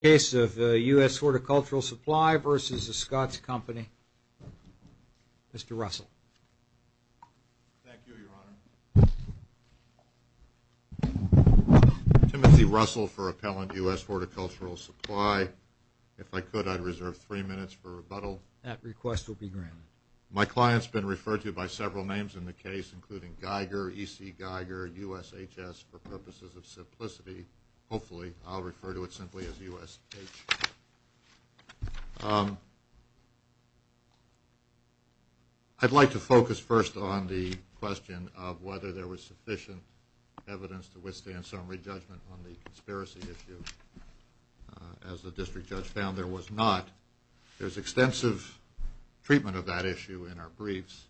Timothy Russell for Appellant U.S. Horticultural Supply. If I could, I'd reserve three minutes for rebuttal. That request will be granted. My client's been referred to by several names in the case, including Geiger, E.C. Geiger, USHS, for purposes of simplicity. Hopefully. Thank you. I'll refer to it simply as USH. I'd like to focus first on the question of whether there was sufficient evidence to withstand summary judgment on the conspiracy issue. As the district judge found, there was not. There's extensive treatment of that issue in our briefs,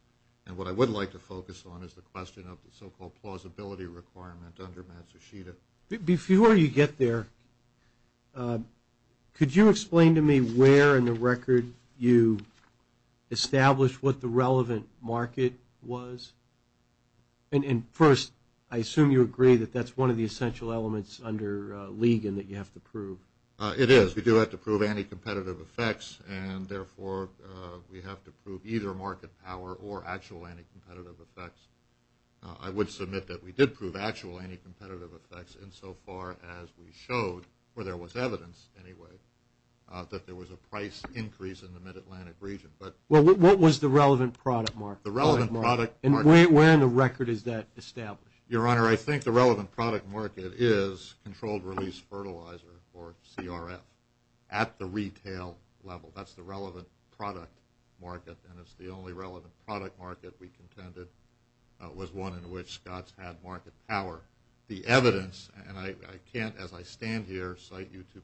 and what I would like to focus on is the question of the so-called plausibility requirement under Matsushita. Before you get there, could you explain to me where in the record you established what the relevant market was? And first, I assume you agree that that's one of the essential elements under Ligon that you have to prove. It is. We do have to prove anti-competitive effects, and therefore we have to prove either market power or actual anti-competitive effects. I would submit that we did prove actual anti-competitive effects insofar as we showed, or there was evidence anyway, that there was a price increase in the mid-Atlantic region. Well, what was the relevant product market? The relevant product market. And where in the record is that established? Your Honor, I think the relevant product market is controlled release fertilizer, or CRF, at the retail level. That's the relevant product market, and it's the only relevant product market we contended was one in which Scotts had market power. The evidence, and I can't, as I stand here, cite you to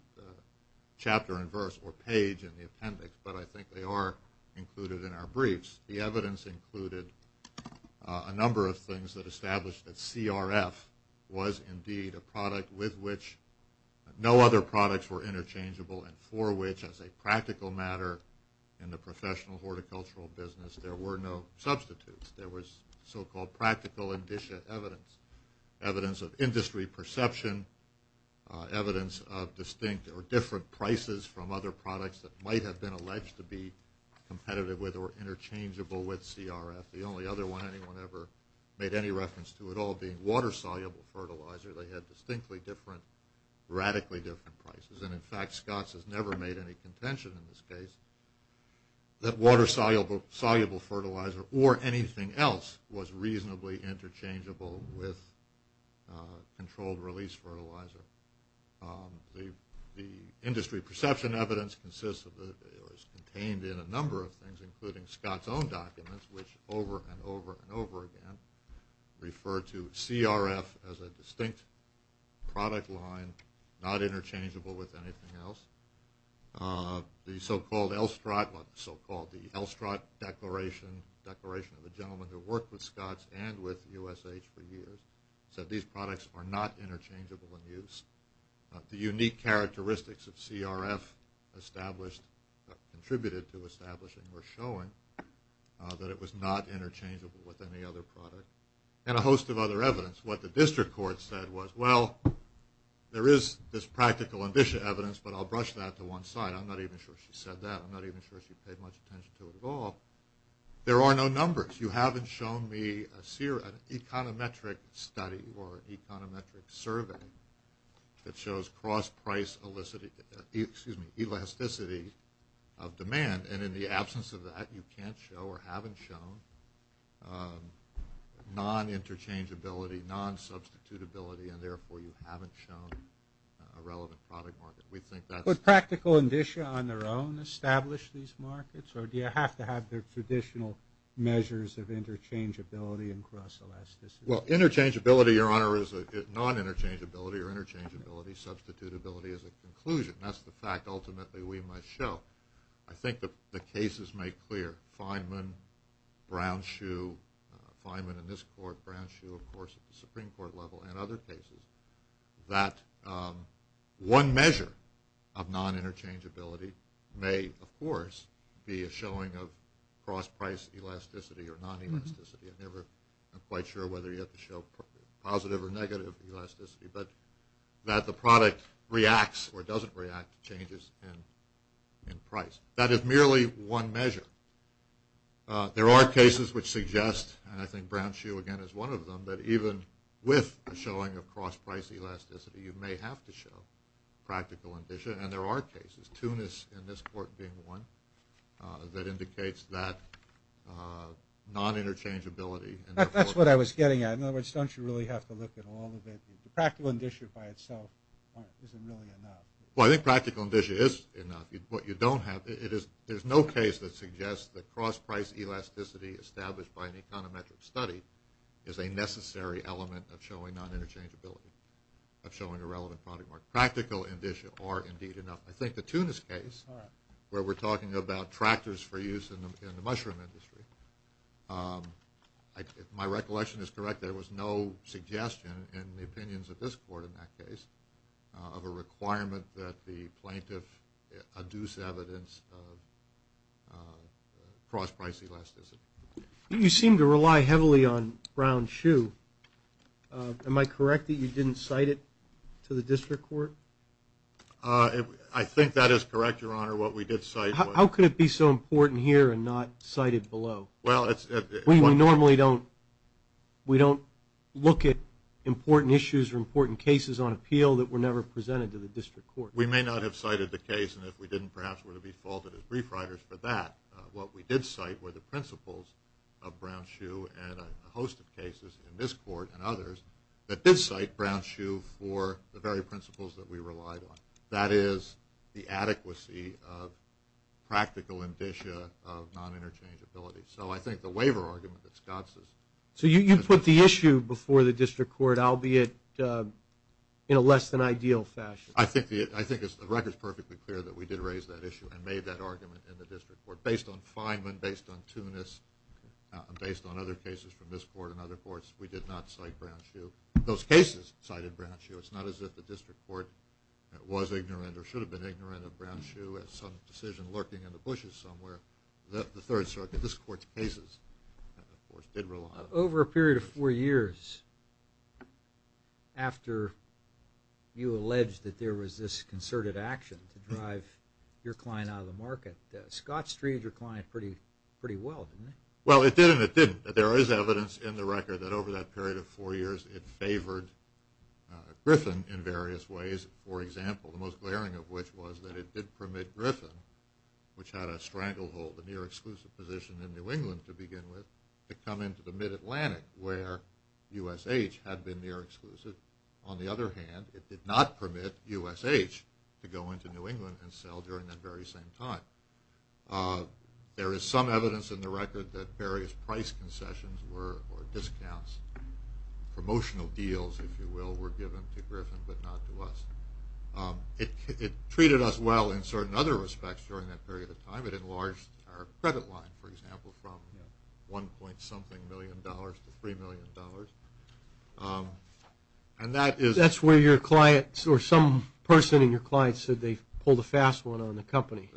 chapter and verse or page in the appendix, but I think they are included in our briefs. The evidence included a number of things that established that CRF was indeed a product with which no other products were interchangeable and for which, as a practical matter in the professional horticultural business, there were no substitutes. There was so-called practical indicia evidence, evidence of industry perception, evidence of distinct or different prices from other products that might have been alleged to be competitive with or interchangeable with CRF. The only other one anyone ever made any reference to at all being water-soluble fertilizer. They had distinctly different, radically different prices. And, in fact, Scotts has never made any contention in this case that water-soluble fertilizer or anything else was reasonably interchangeable with controlled release fertilizer. The industry perception evidence consists of, is contained in a number of things, including Scotts' own documents, which over and over and over again refer to CRF as a distinct product line, not interchangeable with anything else. The so-called L-strut declaration of a gentleman who worked with Scotts and with USH for years said these products are not interchangeable in use. The unique characteristics of CRF contributed to establishing or showing that it was not interchangeable with any other product. And a host of other evidence. What the district court said was, well, there is this practical indicia evidence, but I'll brush that to one side. I'm not even sure she said that. I'm not even sure she paid much attention to it at all. There are no numbers. You haven't shown me an econometric study or econometric survey that shows cross-price elasticity of demand. And in the absence of that, you can't show or haven't shown non-interchangeability, non-substitutability, and therefore you haven't shown a relevant product market. We think that's- Do the practical indicia on their own establish these markets, or do you have to have the traditional measures of interchangeability and cross-elasticity? Well, interchangeability, Your Honor, is a non-interchangeability, or interchangeability, substitutability is a conclusion. That's the fact ultimately we must show. I think the cases make clear, Feynman, Brown-Shue, Feynman in this court, Brown-Shue, of course, and other cases that one measure of non-interchangeability may, of course, be a showing of cross-price elasticity or non-elasticity. I'm never quite sure whether you have to show positive or negative elasticity, but that the product reacts or doesn't react to changes in price. That is merely one measure. There are cases which suggest, and I think Brown-Shue again is one of them, that even with a showing of cross-price elasticity, you may have to show practical indicia, and there are cases, Tunis in this court being one, that indicates that non-interchangeability- That's what I was getting at. In other words, don't you really have to look at all of it? The practical indicia by itself isn't really enough. Well, I think practical indicia is enough. What you don't have- There's no case that suggests that cross-price elasticity established by an econometric study is a necessary element of showing non-interchangeability, of showing a relevant product. Practical indicia are indeed enough. I think the Tunis case, where we're talking about tractors for use in the mushroom industry, if my recollection is correct, there was no suggestion in the opinions of this court in that case of a requirement that the plaintiff adduce evidence of cross-price elasticity. You seem to rely heavily on Brown-Shu. Am I correct that you didn't cite it to the district court? I think that is correct, Your Honor. What we did cite was- How could it be so important here and not cited below? Well, it's- We normally don't look at important issues or important cases on appeal that were never presented to the district court. We may not have cited the case, and if we didn't, perhaps, were to be faulted as brief writers for that. What we did cite were the principles of Brown-Shu and a host of cases in this court and others that did cite Brown-Shu for the very principles that we relied on. That is the adequacy of practical indicia of non-interchangeability. So I think the waiver argument that Scott says- So you put the issue before the district court, albeit in a less-than-ideal fashion. I think the record is perfectly clear that we did raise that issue and made that argument in the district court based on Feynman, based on Tunis, based on other cases from this court and other courts. We did not cite Brown-Shu. Those cases cited Brown-Shu. It's not as if the district court was ignorant or should have been ignorant of Brown-Shu as some decision lurking in the bushes somewhere. The Third Circuit, this court's cases, of course, did rely on it. Over a period of four years after you alleged that there was this concerted action to drive your client out of the market, Scott's treated your client pretty well, didn't he? Well, it did and it didn't. There is evidence in the record that over that period of four years it favored Griffin in various ways. For example, the most glaring of which was that it did permit Griffin, which had a stranglehold, a near-exclusive position in New England to begin with, to come into the Mid-Atlantic where USH had been near-exclusive. On the other hand, it did not permit USH to go into New England and sell during that very same time. There is some evidence in the record that various price concessions or discounts, promotional deals, if you will, were given to Griffin but not to us. It treated us well in certain other respects during that period of time. It enlarged our credit line, for example, from $1.something million to $3 million. And that is... That's where your client or some person in your client said they pulled a fast one on the company.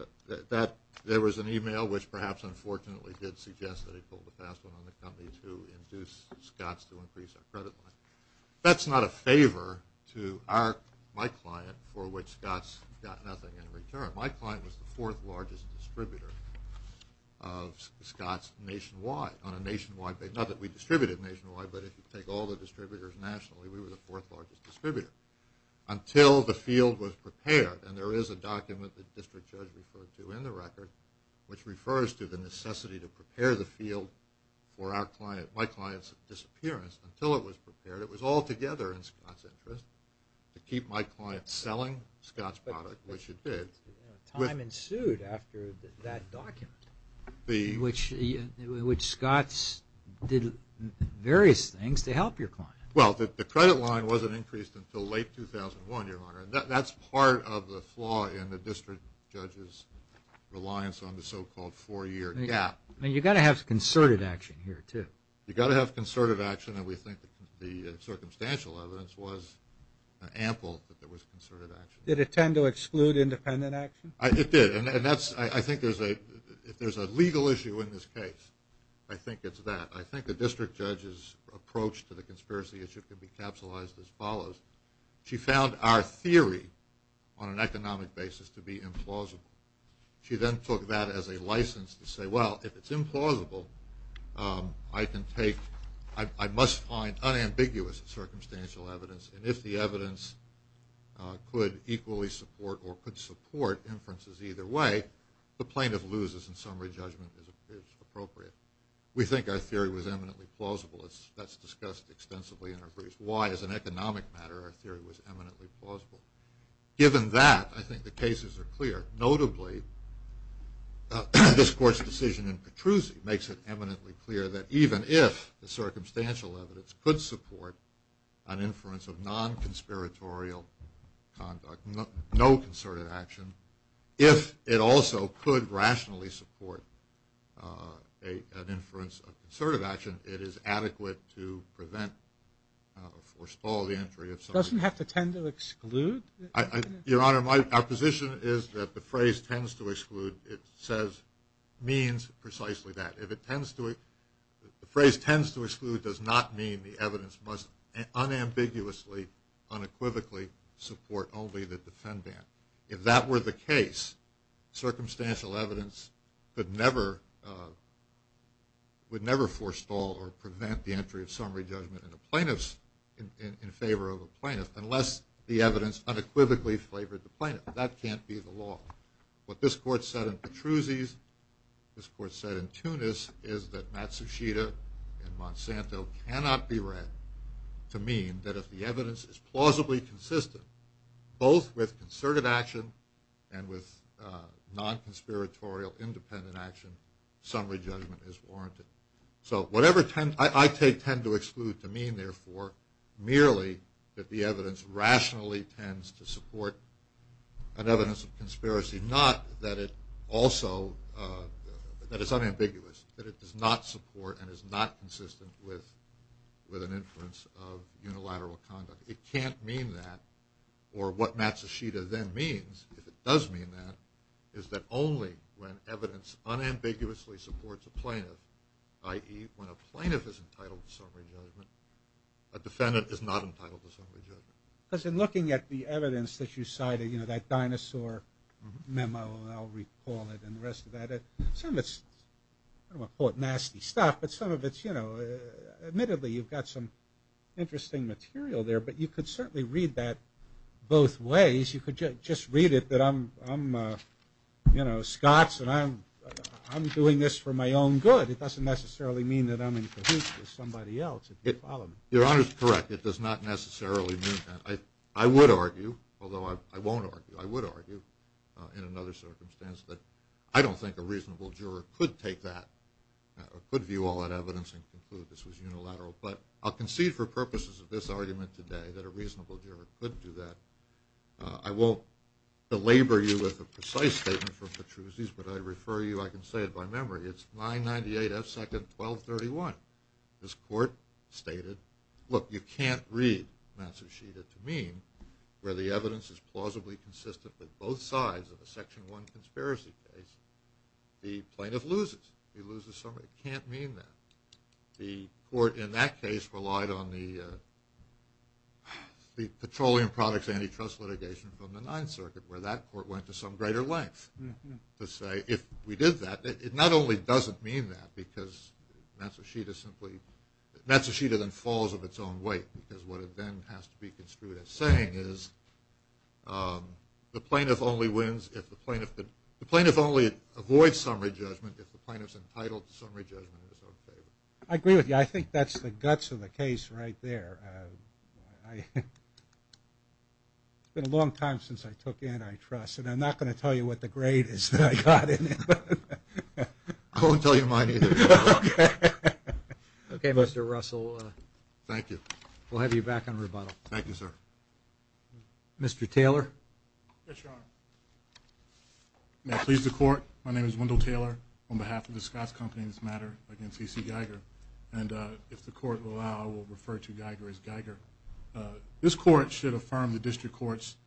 There was an email which perhaps unfortunately did suggest that he pulled a fast one on the company to induce Scott's to increase our credit line. That's not a favor to my client for which Scott's got nothing in return. My client was the fourth largest distributor of Scott's nationwide on a nationwide basis. Not that we distributed nationwide, but if you take all the distributors nationally, we were the fourth largest distributor until the field was prepared. And there is a document that the district judge referred to in the record which refers to the necessity to prepare the field for my client's disappearance until it was prepared. It was altogether in Scott's interest to keep my client selling Scott's product, which it did. Time ensued after that document, which Scott's did various things to help your client. Well, the credit line wasn't increased until late 2001, Your Honor. That's part of the flaw in the district judge's reliance on the so-called four-year gap. You've got to have concerted action here, too. You've got to have concerted action, and we think the circumstantial evidence was ample that there was concerted action. Did it tend to exclude independent action? It did, and I think if there's a legal issue in this case, I think it's that. I think the district judge's approach to the conspiracy issue can be capsulized as follows. She found our theory on an economic basis to be implausible. She then took that as a license to say, well, if it's implausible, I must find unambiguous circumstantial evidence, and if the evidence could equally support or could support inferences either way, the plaintiff loses, and summary judgment is appropriate. We think our theory was eminently plausible. That's discussed extensively in our briefs. Why, as an economic matter, our theory was eminently plausible. Given that, I think the cases are clear. Notably, this court's decision in Petruzzi makes it eminently clear that even if the circumstantial evidence could support an inference of non-conspiratorial conduct, no concerted action, if it also could rationally support an inference of concerted action, it is adequate to prevent or stall the entry of somebody. It doesn't have to tend to exclude? Your Honor, our position is that the phrase tends to exclude, it says, means precisely that. If it tends to, the phrase tends to exclude does not mean the evidence must unambiguously, unequivocally support only the defendant. If that were the case, circumstantial evidence could never, would never forestall or prevent the entry of summary judgment in favor of a plaintiff unless the evidence unequivocally favored the plaintiff. That can't be the law. What this court said in Petruzzi's, this court said in Tunis, is that Matsushita and Monsanto cannot be read to mean that if the evidence is plausibly consistent, both with concerted action and with non-conspiratorial independent action, summary judgment is warranted. So whatever I take tend to exclude to mean, therefore, merely that the evidence rationally tends to support an evidence of conspiracy, not that it also, that it's unambiguous, that it does not support and is not consistent with an inference of unilateral conduct. It can't mean that, or what Matsushita then means, if it does mean that, is that only when evidence unambiguously supports a plaintiff, i.e., when a plaintiff is entitled to summary judgment, a defendant is not entitled to summary judgment. Because in looking at the evidence that you cited, you know, that dinosaur memo, I'll recall it and the rest of that, some of it's, I don't want to call it nasty stuff, but some of it's, you know, admittedly you've got some interesting material there, but you could certainly read that both ways. You could just read it that I'm, you know, Scots and I'm doing this for my own good. It doesn't necessarily mean that I'm in cahoots with somebody else, if you follow me. Your Honor is correct. It does not necessarily mean that. I would argue, although I won't argue, I would argue in another circumstance, that I don't think a reasonable juror could take that or could view all that evidence and conclude this was unilateral. But I'll concede for purposes of this argument today that a reasonable juror could do that. I won't belabor you with a precise statement from Petruzzi's, but I refer you, I can say it by memory, it's 998 F. 2nd, 1231. This court stated, look, you can't read Massachitta to mean where the evidence is plausibly consistent with both sides of a Section 1 conspiracy case. The plaintiff loses. He loses summary. It can't mean that. The court in that case relied on the petroleum products antitrust litigation from the Ninth Circuit, where that court went to some greater length to say, if we did that, it not only doesn't mean that because Massachitta simply, Massachitta then falls of its own weight because what it then has to be construed as saying is the plaintiff only wins if the plaintiff, the plaintiff only avoids summary judgment if the plaintiff's entitled to summary judgment. I agree with you. I think that's the guts of the case right there. It's been a long time since I took antitrust, and I'm not going to tell you what the grade is that I got in it. I won't tell you mine either. Okay, Mr. Russell. Thank you. We'll have you back on rebuttal. Thank you, sir. Mr. Taylor. Yes, Your Honor. May I please the court? My name is Wendell Taylor on behalf of the Scotts Company in this matter against E.C. Geiger, and if the court will allow, I will refer to Geiger as Geiger. This court should affirm the district court's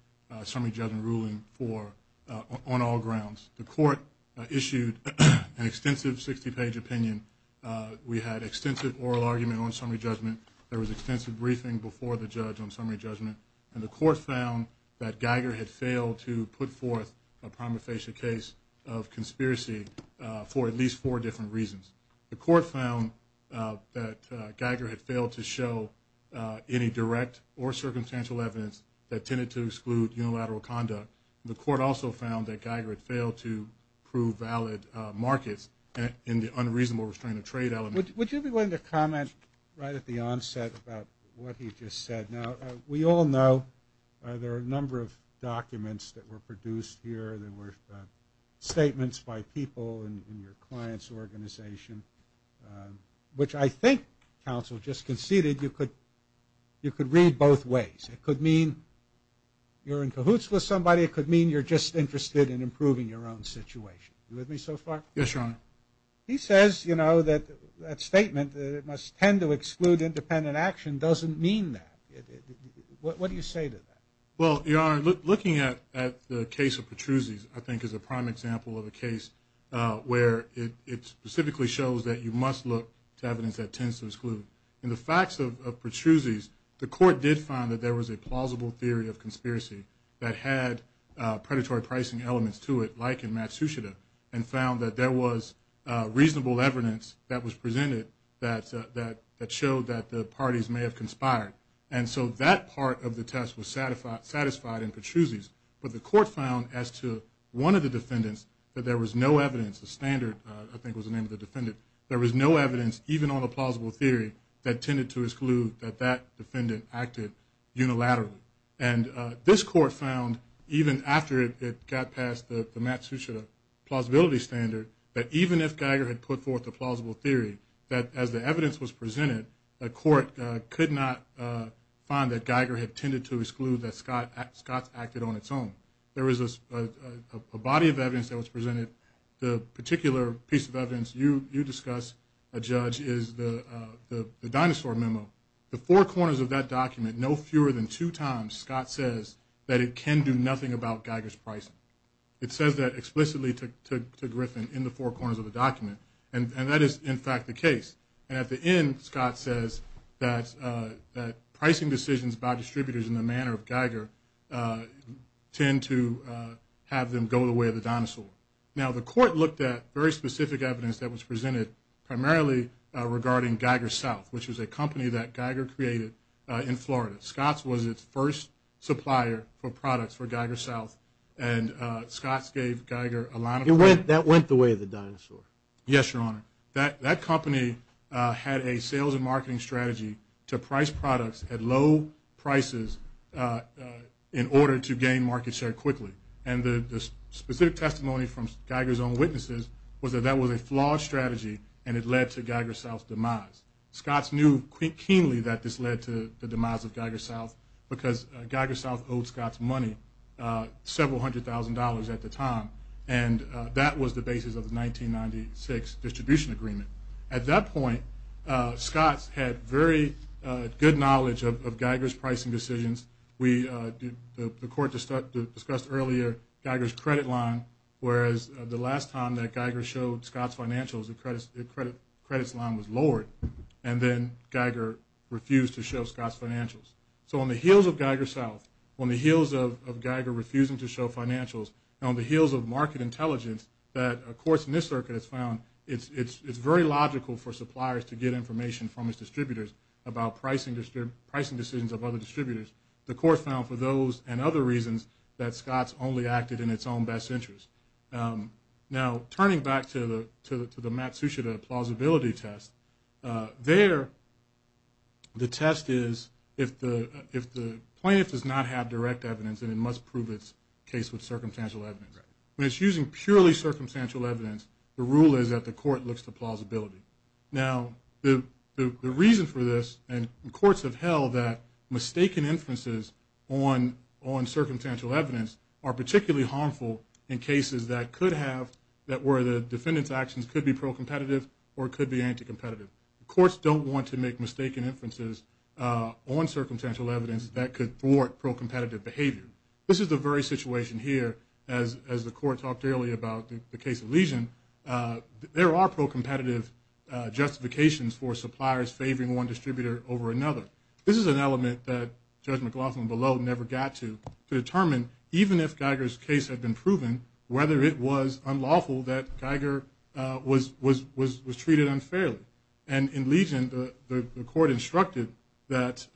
summary judgment ruling on all grounds. The court issued an extensive 60-page opinion. We had extensive oral argument on summary judgment. There was extensive briefing before the judge on summary judgment, and the court found that Geiger had failed to put forth a prima facie case of conspiracy for at least four different reasons. The court found that Geiger had failed to show any direct or circumstantial evidence that tended to exclude unilateral conduct. The court also found that Geiger had failed to prove valid markets in the unreasonable restraint of trade element. Would you be willing to comment right at the onset about what he just said? Now, we all know there are a number of documents that were produced here. There were statements by people in your client's organization, which I think counsel just conceded you could read both ways. It could mean you're in cahoots with somebody. It could mean you're just interested in improving your own situation. Are you with me so far? Yes, Your Honor. He says, you know, that statement that it must tend to exclude independent action doesn't mean that. What do you say to that? Well, Your Honor, looking at the case of Petruzzi's I think is a prime example of a case where it specifically shows that you must look to evidence that tends to exclude. In the facts of Petruzzi's, the court did find that there was a plausible theory of conspiracy that had predatory pricing elements to it like in Matsushita and found that there was reasonable evidence that was presented that showed that the parties may have conspired. And so that part of the test was satisfied in Petruzzi's, but the court found as to one of the defendants that there was no evidence, the standard I think was the name of the defendant, there was no evidence even on a plausible theory that tended to exclude that that defendant acted unilaterally. And this court found even after it got past the Matsushita plausibility standard that even if Geiger had put forth a plausible theory that as the evidence was presented, the court could not find that Geiger had tended to exclude that Scott acted on its own. There was a body of evidence that was presented. The particular piece of evidence you discuss, Judge, is the dinosaur memo. The four corners of that document, no fewer than two times, Scott says that it can do nothing about Geiger's pricing. It says that explicitly to Griffin in the four corners of the document, and that is in fact the case. And at the end, Scott says that pricing decisions by distributors in the manner of Geiger tend to have them go the way of the dinosaur. Now the court looked at very specific evidence that was presented primarily regarding Geiger South, which was a company that Geiger created in Florida. Scott's was its first supplier for products for Geiger South, and Scott's gave Geiger a line of credit. That went the way of the dinosaur? Yes, Your Honor. That company had a sales and marketing strategy to price products at low prices in order to gain market share quickly. And the specific testimony from Geiger's own witnesses was that that was a flawed strategy, and it led to Geiger South's demise. Scott's knew keenly that this led to the demise of Geiger South, because Geiger South owed Scott's money, several hundred thousand dollars at the time, and that was the basis of the 1996 distribution agreement. At that point, Scott's had very good knowledge of Geiger's pricing decisions. The court discussed earlier Geiger's credit line, whereas the last time that Geiger showed Scott's financials, its credit line was lowered, and then Geiger refused to show Scott's financials. So on the heels of Geiger South, on the heels of Geiger refusing to show financials, and on the heels of market intelligence, that a court in this circuit has found it's very logical for suppliers to get information from its distributors about pricing decisions of other distributors. The court found for those and other reasons that Scott's only acted in its own best interest. Now, turning back to the Matsushita plausibility test, there the test is if the plaintiff does not have direct evidence, then it must prove its case with circumstantial evidence. When it's using purely circumstantial evidence, the rule is that the court looks to plausibility. Now, the reason for this, and courts have held that mistaken inferences on circumstantial evidence are particularly harmful in cases that could have, that where the defendant's actions could be pro-competitive or could be anti-competitive. Courts don't want to make mistaken inferences on circumstantial evidence that could thwart pro-competitive behavior. This is the very situation here as the court talked earlier about the case of Legion. There are pro-competitive justifications for suppliers favoring one distributor over another. This is an element that Judge McLaughlin below never got to determine, even if Geiger's case had been proven, whether it was unlawful that Geiger was treated unfairly. And in Legion, the court instructed that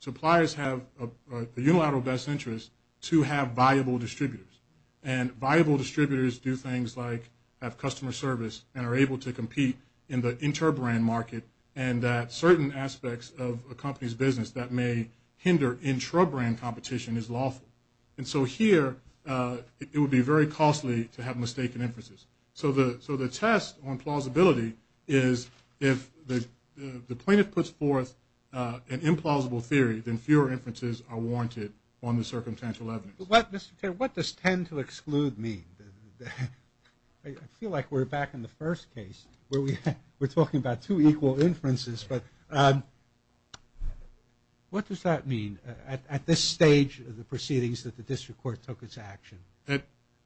suppliers have a unilateral best interest to have viable distributors. And viable distributors do things like have customer service and are able to compete in the inter-brand market and that certain aspects of a company's business that may hinder intra-brand competition is lawful. And so here, it would be very costly to have mistaken inferences. So the test on plausibility is if the plaintiff puts forth an implausible theory, then fewer inferences are warranted on the circumstantial evidence. What does tend to exclude mean? I feel like we're back in the first case where we're talking about two equal inferences. But what does that mean at this stage of the proceedings that the district court took its action?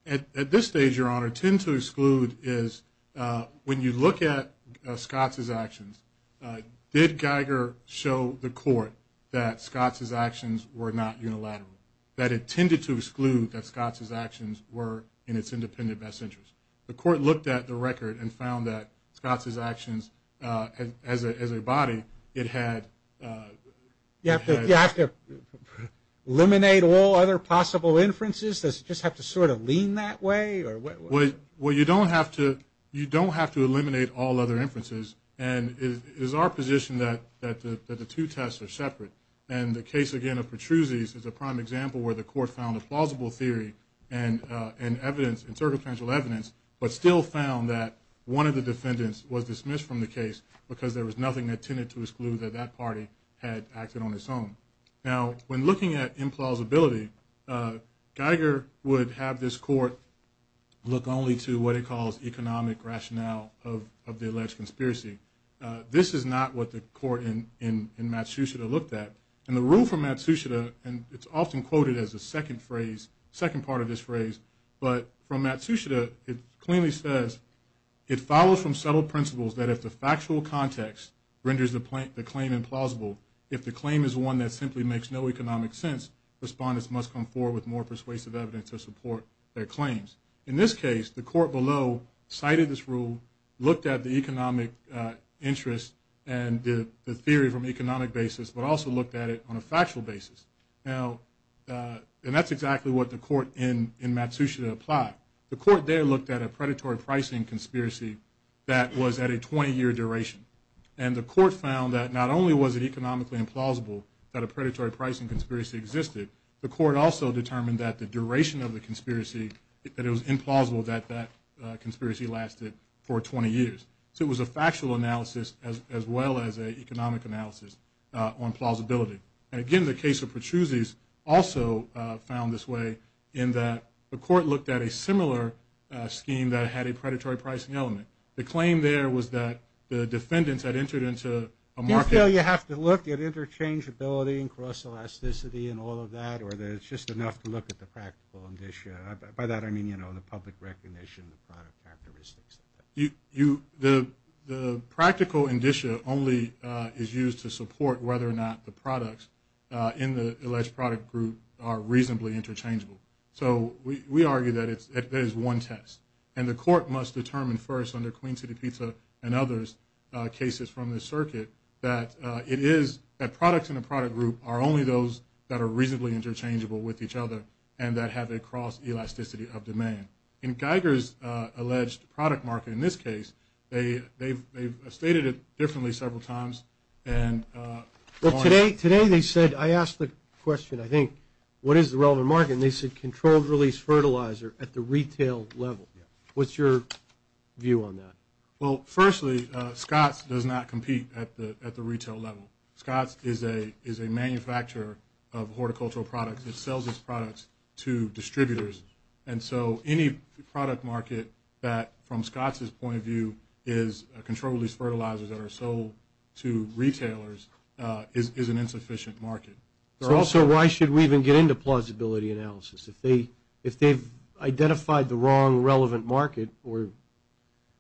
At this stage, Your Honor, tend to exclude is when you look at Scott's actions, did Geiger show the court that Scott's actions were not unilateral, that it tended to exclude that Scott's actions were in its independent best interest? The court looked at the record and found that Scott's actions as a body, it had ‑‑ You have to eliminate all other possible inferences? Does it just have to sort of lean that way? Well, you don't have to eliminate all other inferences. And it is our position that the two tests are separate. And the case, again, of Petruzzi's is a prime example where the court found a plausible theory and circumstantial evidence but still found that one of the defendants was dismissed from the case because there was nothing that tended to exclude that that party had acted on its own. Now, when looking at implausibility, Geiger would have this court look only to what it calls economic rationale of the alleged conspiracy. This is not what the court in Matsushita looked at. And the rule from Matsushita, and it's often quoted as a second phrase, second part of this phrase, but from Matsushita it clearly says, it follows from subtle principles that if the factual context renders the claim implausible, if the claim is one that simply makes no economic sense, respondents must come forward with more persuasive evidence to support their claims. In this case, the court below cited this rule, looked at the economic interest and the theory from economic basis, but also looked at it on a factual basis. Now, and that's exactly what the court in Matsushita applied. The court there looked at a predatory pricing conspiracy that was at a 20-year duration. And the court found that not only was it economically implausible that a predatory pricing conspiracy existed, the court also determined that the duration of the conspiracy, that it was implausible that that conspiracy lasted for 20 years. So it was a factual analysis as well as an economic analysis on plausibility. And, again, the case of Petruzzi's also found this way in that the court looked at a similar scheme that had a predatory pricing element. The claim there was that the defendants had entered into a market. Do you feel you have to look at interchangeability and cross-elasticity and all of that, or that it's just enough to look at the practical indicia? By that I mean, you know, the public recognition, the product characteristics. The practical indicia only is used to support whether or not the products in the alleged product group are reasonably interchangeable. So we argue that it is one test. And the court must determine first under Queen City Pizza and others, cases from the circuit, that it is that products in a product group are only those that are reasonably interchangeable with each other and that have a cross-elasticity of demand. In Geiger's alleged product market in this case, they've stated it differently several times. Today they said, I asked the question, I think, what is the relevant market? And they said controlled-release fertilizer at the retail level. What's your view on that? Well, firstly, Scotts does not compete at the retail level. Scotts is a manufacturer of horticultural products. It sells its products to distributors. And so any product market that, from Scotts' point of view, is a controlled-release fertilizer that are sold to retailers is an insufficient market. So why should we even get into plausibility analysis? If they've identified the wrong relevant market or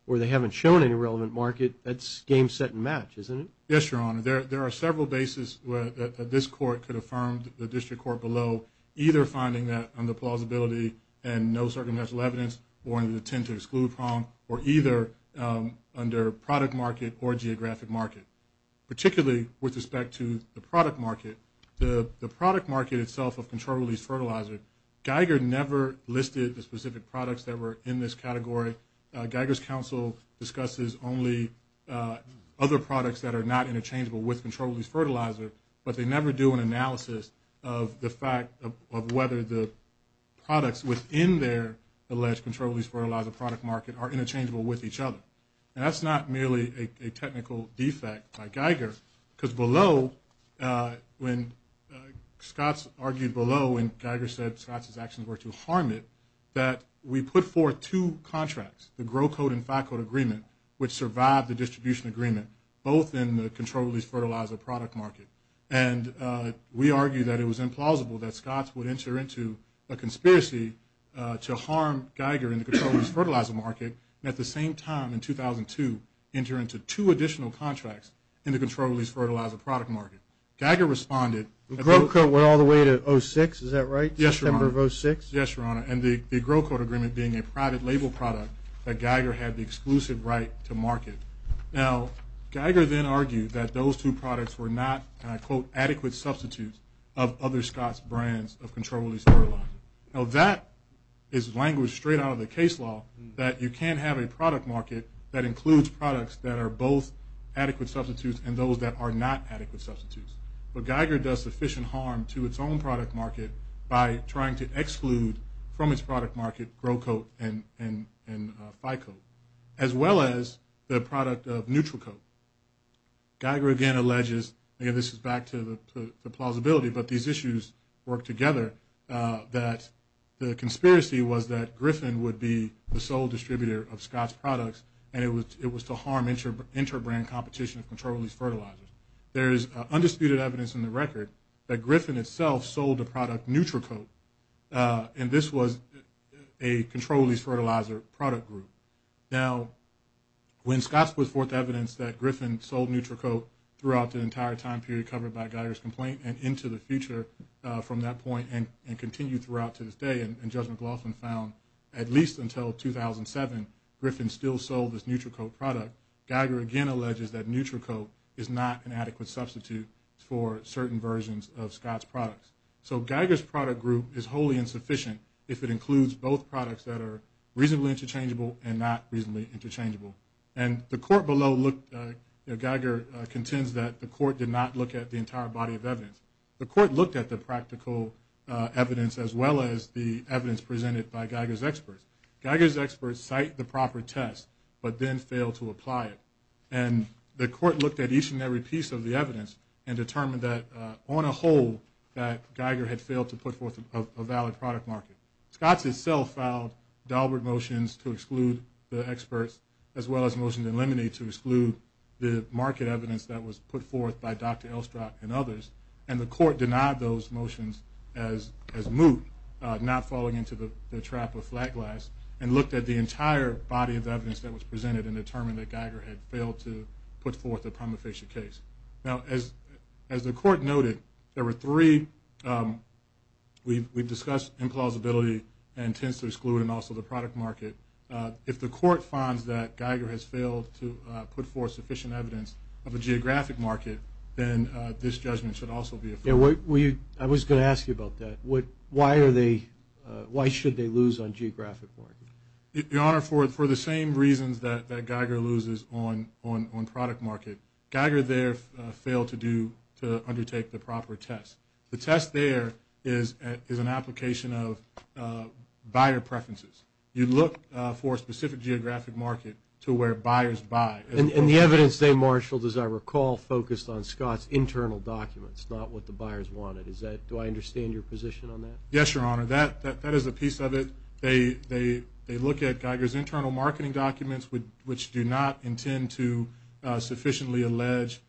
they haven't shown any relevant market, that's game, set, and match, isn't it? Yes, Your Honor. There are several bases that this court could affirm the district court below, either finding that under plausibility and no circumstantial evidence or in an attempt to exclude from or either under product market or geographic market. Particularly with respect to the product market, the product market itself of controlled-release fertilizer, Geiger never listed the specific products that were in this category. Geiger's counsel discusses only other products that are not interchangeable with controlled-release fertilizer, but they never do an analysis of the fact of whether the products within their alleged controlled-release fertilizer product market are interchangeable with each other. And that's not merely a technical defect by Geiger, because below, when Scotts argued below, and Geiger said Scotts' actions were to harm it, that we put forth two contracts, the Grow Code and FACOD agreement, which survived the distribution agreement, both in the controlled-release fertilizer product market. And we argued that it was implausible that Scotts would enter into a conspiracy to harm Geiger in the controlled-release fertilizer market, and at the same time in 2002, enter into two additional contracts in the controlled-release fertilizer product market. Geiger responded. The Grow Code went all the way to 06, is that right? Yes, Your Honor. September of 06? Yes, Your Honor, and the Grow Code agreement being a private label product that Geiger had the exclusive right to market. Now, Geiger then argued that those two products were not, and I quote, adequate substitutes of other Scotts' brands of controlled-release fertilizer. Now, that is language straight out of the case law, that you can't have a product market that includes products that are both adequate substitutes and those that are not adequate substitutes. But Geiger does sufficient harm to its own product market by trying to exclude from its product market Grow Code and FICOD, as well as the product of Neutral Code. Geiger again alleges, and this is back to the plausibility, but these issues work together, that the conspiracy was that Griffin would be the sole distributor of Scotts' products and it was to harm inter-brand competition of controlled-release fertilizers. There is undisputed evidence in the record that Griffin itself sold the product Neutral Code, and this was a controlled-release fertilizer product group. Now, when Scotts put forth evidence that Griffin sold Neutral Code throughout the entire time period covered by Geiger's complaint and into the future from that point and continued throughout to this day, and Judge McLaughlin found at least until 2007 Griffin still sold this Neutral Code product, Geiger again alleges that Neutral Code is not an adequate substitute for certain versions of Scotts' products. So Geiger's product group is wholly insufficient if it includes both products that are reasonably interchangeable and not reasonably interchangeable. And the court below Geiger contends that the court did not look at the entire body of evidence. The court looked at the practical evidence as well as the evidence presented by Geiger's experts. Geiger's experts cite the proper test but then fail to apply it. And the court looked at each and every piece of the evidence and determined that on a whole that Geiger had failed to put forth a valid product market. Now, Scotts itself filed Dahlberg motions to exclude the experts as well as motions in Lemony to exclude the market evidence that was put forth by Dr. Elstrock and others. And the court denied those motions as moot, not falling into the trap of flat glass, and looked at the entire body of evidence that was presented and determined that Geiger had failed to put forth a prima facie case. Now, as the court noted, there were three. We've discussed implausibility and tends to exclude and also the product market. If the court finds that Geiger has failed to put forth sufficient evidence of a geographic market, then this judgment should also be affirmed. I was going to ask you about that. Why should they lose on geographic market? Your Honor, for the same reasons that Geiger loses on product market. Geiger there failed to undertake the proper test. The test there is an application of buyer preferences. You look for a specific geographic market to where buyers buy. And the evidence they marshaled, as I recall, focused on Scotts' internal documents, not what the buyers wanted. Do I understand your position on that? Yes, Your Honor. That is a piece of it. They look at Geiger's internal marketing documents, which do not intend to sufficiently allege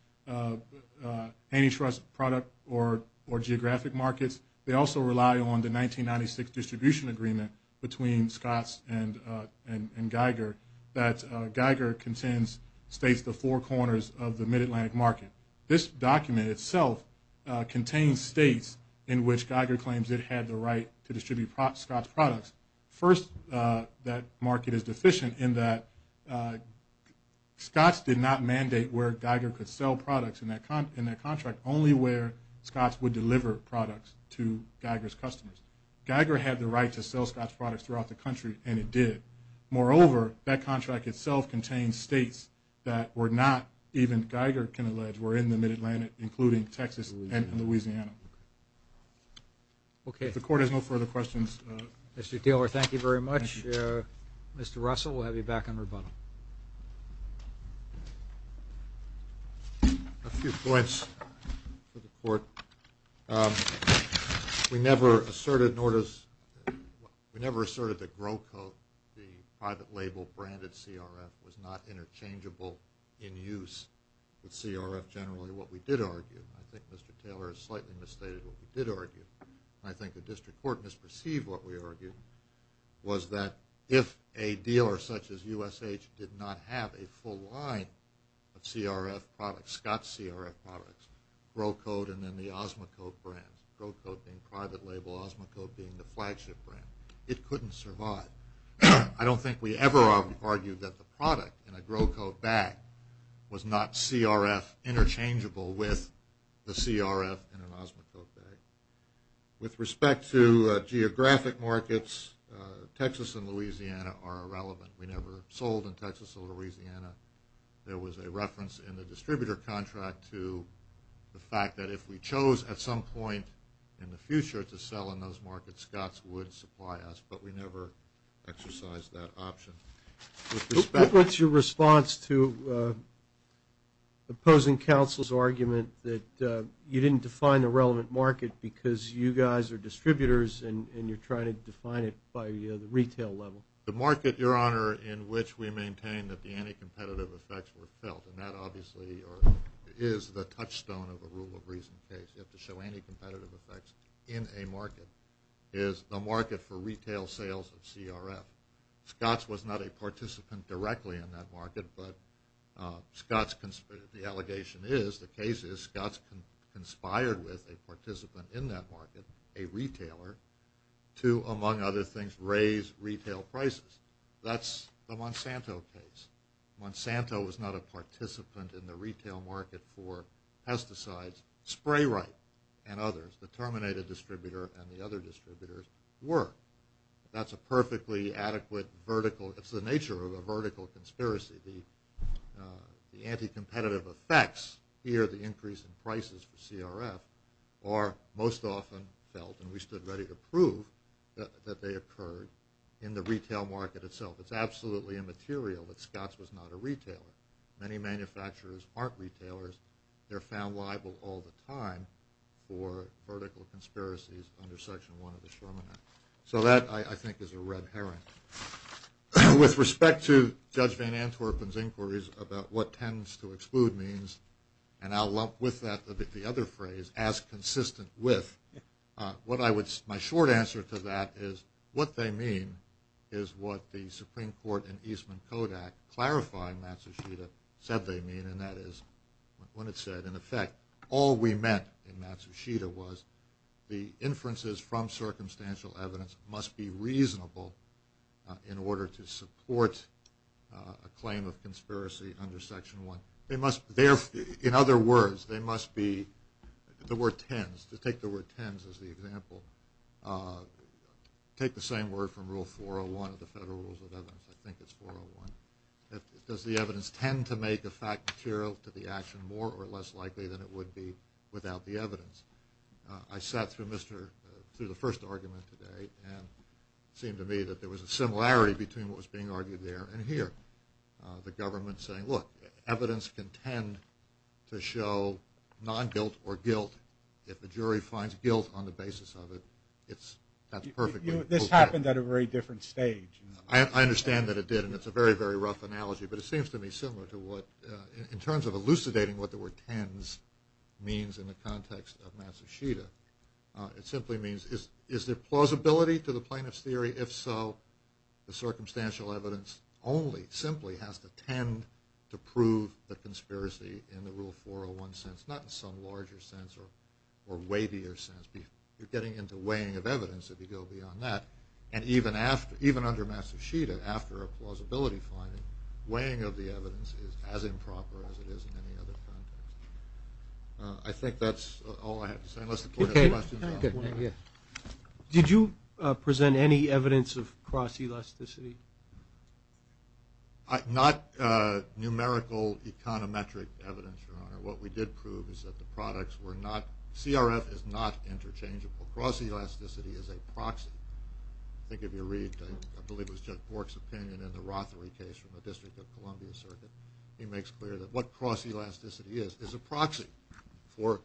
antitrust product or geographic markets. They also rely on the 1996 distribution agreement between Scotts and Geiger that Geiger states the four corners of the mid-Atlantic market. This document itself contains states in which Geiger claims it had the right to distribute Scotts' products. First, that market is deficient in that Scotts did not mandate where Geiger could sell products in that contract, only where Scotts would deliver products to Geiger's customers. Geiger had the right to sell Scotts' products throughout the country, and it did. Moreover, that contract itself contains states that were not, even Geiger can allege, were in the mid-Atlantic, including Texas and Louisiana. Okay. If the Court has no further questions. Mr. Taylor, thank you very much. Thank you. Mr. Russell, we'll have you back on rebuttal. A few points for the Court. We never asserted that GroCoat, the private label branded CRF, was not interchangeable in use with CRF generally. I think Mr. Taylor has slightly misstated what we did argue, and I think the District Court misperceived what we argued, was that if a dealer such as USH did not have a full line of CRF products, Scotts' CRF products, GroCoat and then the Osmocote brands, GroCoat being private label, Osmocote being the flagship brand, it couldn't survive. I don't think we ever argued that the product in a GroCoat bag was not CRF interchangeable with the CRF in an Osmocote bag. With respect to geographic markets, Texas and Louisiana are irrelevant. We never sold in Texas or Louisiana. There was a reference in the distributor contract to the fact that if we chose at some point in the future to sell in those markets, Scotts would supply us, but we never exercised that option. What's your response to opposing counsel's argument that you didn't define the relevant market because you guys are distributors and you're trying to define it by the retail level? The market, Your Honor, in which we maintain that the anti-competitive effects were felt, and that obviously is the touchstone of the rule of reason case. You have to show anti-competitive effects in a market, is the market for retail sales of CRF. Scotts was not a participant directly in that market, but the allegation is, the case is Scotts conspired with a participant in that market, a retailer, to, among other things, raise retail prices. That's the Monsanto case. Monsanto was not a participant in the retail market for pesticides. Spray-Rite and others, the Terminator distributor and the other distributors, were. That's a perfectly adequate vertical. It's the nature of a vertical conspiracy. The anti-competitive effects here, the increase in prices for CRF, are most often felt, and we stood ready to prove that they occurred in the retail market itself. It's absolutely immaterial that Scotts was not a retailer. Many manufacturers aren't retailers. They're found liable all the time for vertical conspiracies under Section 1 of the Sherman Act. So that, I think, is a red herring. With respect to Judge Van Antwerpen's inquiries about what tends to exclude means, and I'll lump with that the other phrase, as consistent with, my short answer to that is what they mean is what the Supreme Court and Eastman Kodak clarifying Matsushita said they mean, and that is what it said. In effect, all we meant in Matsushita was the inferences from circumstantial evidence must be reasonable in order to support a claim of conspiracy under Section 1. In other words, they must be, the word tends, to take the word tends as the example, take the same word from Rule 401 of the Federal Rules of Evidence. I think it's 401. Does the evidence tend to make a fact material to the action more or less likely than it would be without the evidence? I sat through the first argument today, and it seemed to me that there was a similarity between what was being argued there and here. The government saying, look, evidence can tend to show non-guilt or guilt. If the jury finds guilt on the basis of it, that's perfectly okay. This happened at a very different stage. I understand that it did, and it's a very, very rough analogy, but it seems to me similar to what, in terms of elucidating what the word tends means in the context of Matsushita, it simply means is there plausibility to the plaintiff's theory? If so, the circumstantial evidence only, simply has to tend to prove the conspiracy in the Rule 401 sense, not in some larger sense or wavier sense. You're getting into weighing of evidence if you go beyond that. And even under Matsushita, after a plausibility finding, weighing of the evidence is as improper as it is in any other context. I think that's all I have to say, unless the court has questions about it. Did you present any evidence of cross-elasticity? Not numerical econometric evidence, Your Honor. What we did prove is that the products were not – CRF is not interchangeable. Cross-elasticity is a proxy. I think if you read, I believe it was Judge Bork's opinion in the Rothery case from the District of Columbia circuit, he makes clear that what cross-elasticity is is a proxy for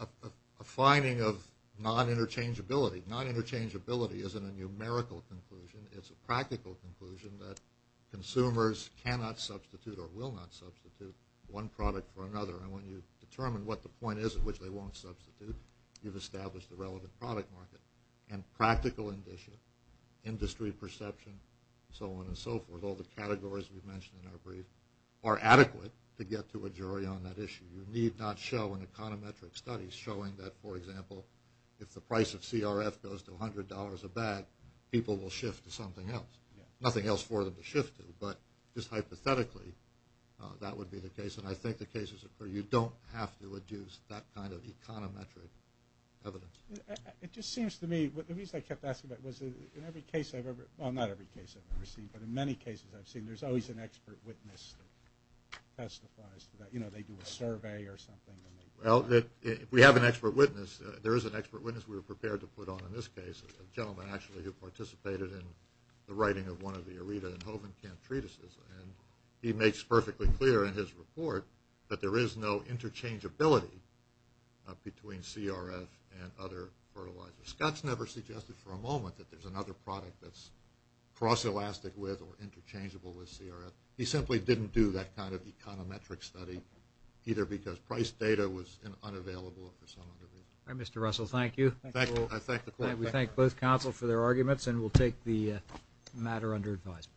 a finding of non-interchangeability. Non-interchangeability isn't a numerical conclusion. It's a practical conclusion that consumers cannot substitute or will not substitute one product for another. And when you determine what the point is at which they won't substitute, you've established the relevant product market. And practical indicia, industry perception, so on and so forth, all the categories we've mentioned in our brief, are adequate to get to a jury on that issue. You need not show an econometric study showing that, for example, if the price of CRF goes to $100 a bag, people will shift to something else. Nothing else for them to shift to. But just hypothetically, that would be the case, and I think the cases occur. You don't have to adduce that kind of econometric evidence. It just seems to me – the reason I kept asking about it was in every case I've ever – well, not every case I've ever seen, but in many cases I've seen, there's always an expert witness that testifies to that. You know, they do a survey or something. Well, we have an expert witness. There is an expert witness we were prepared to put on in this case, a gentleman actually who participated in the writing of one of the Aretha and Hovenkamp treatises, and he makes perfectly clear in his report that there is no interchangeability between CRF and other fertilizers. Scott's never suggested for a moment that there's another product that's cross-elastic with or interchangeable with CRF. He simply didn't do that kind of econometric study, either because price data was unavailable or for some other reason. All right, Mr. Russell, thank you. We thank both counsel for their arguments, and we'll take the matter under advisement.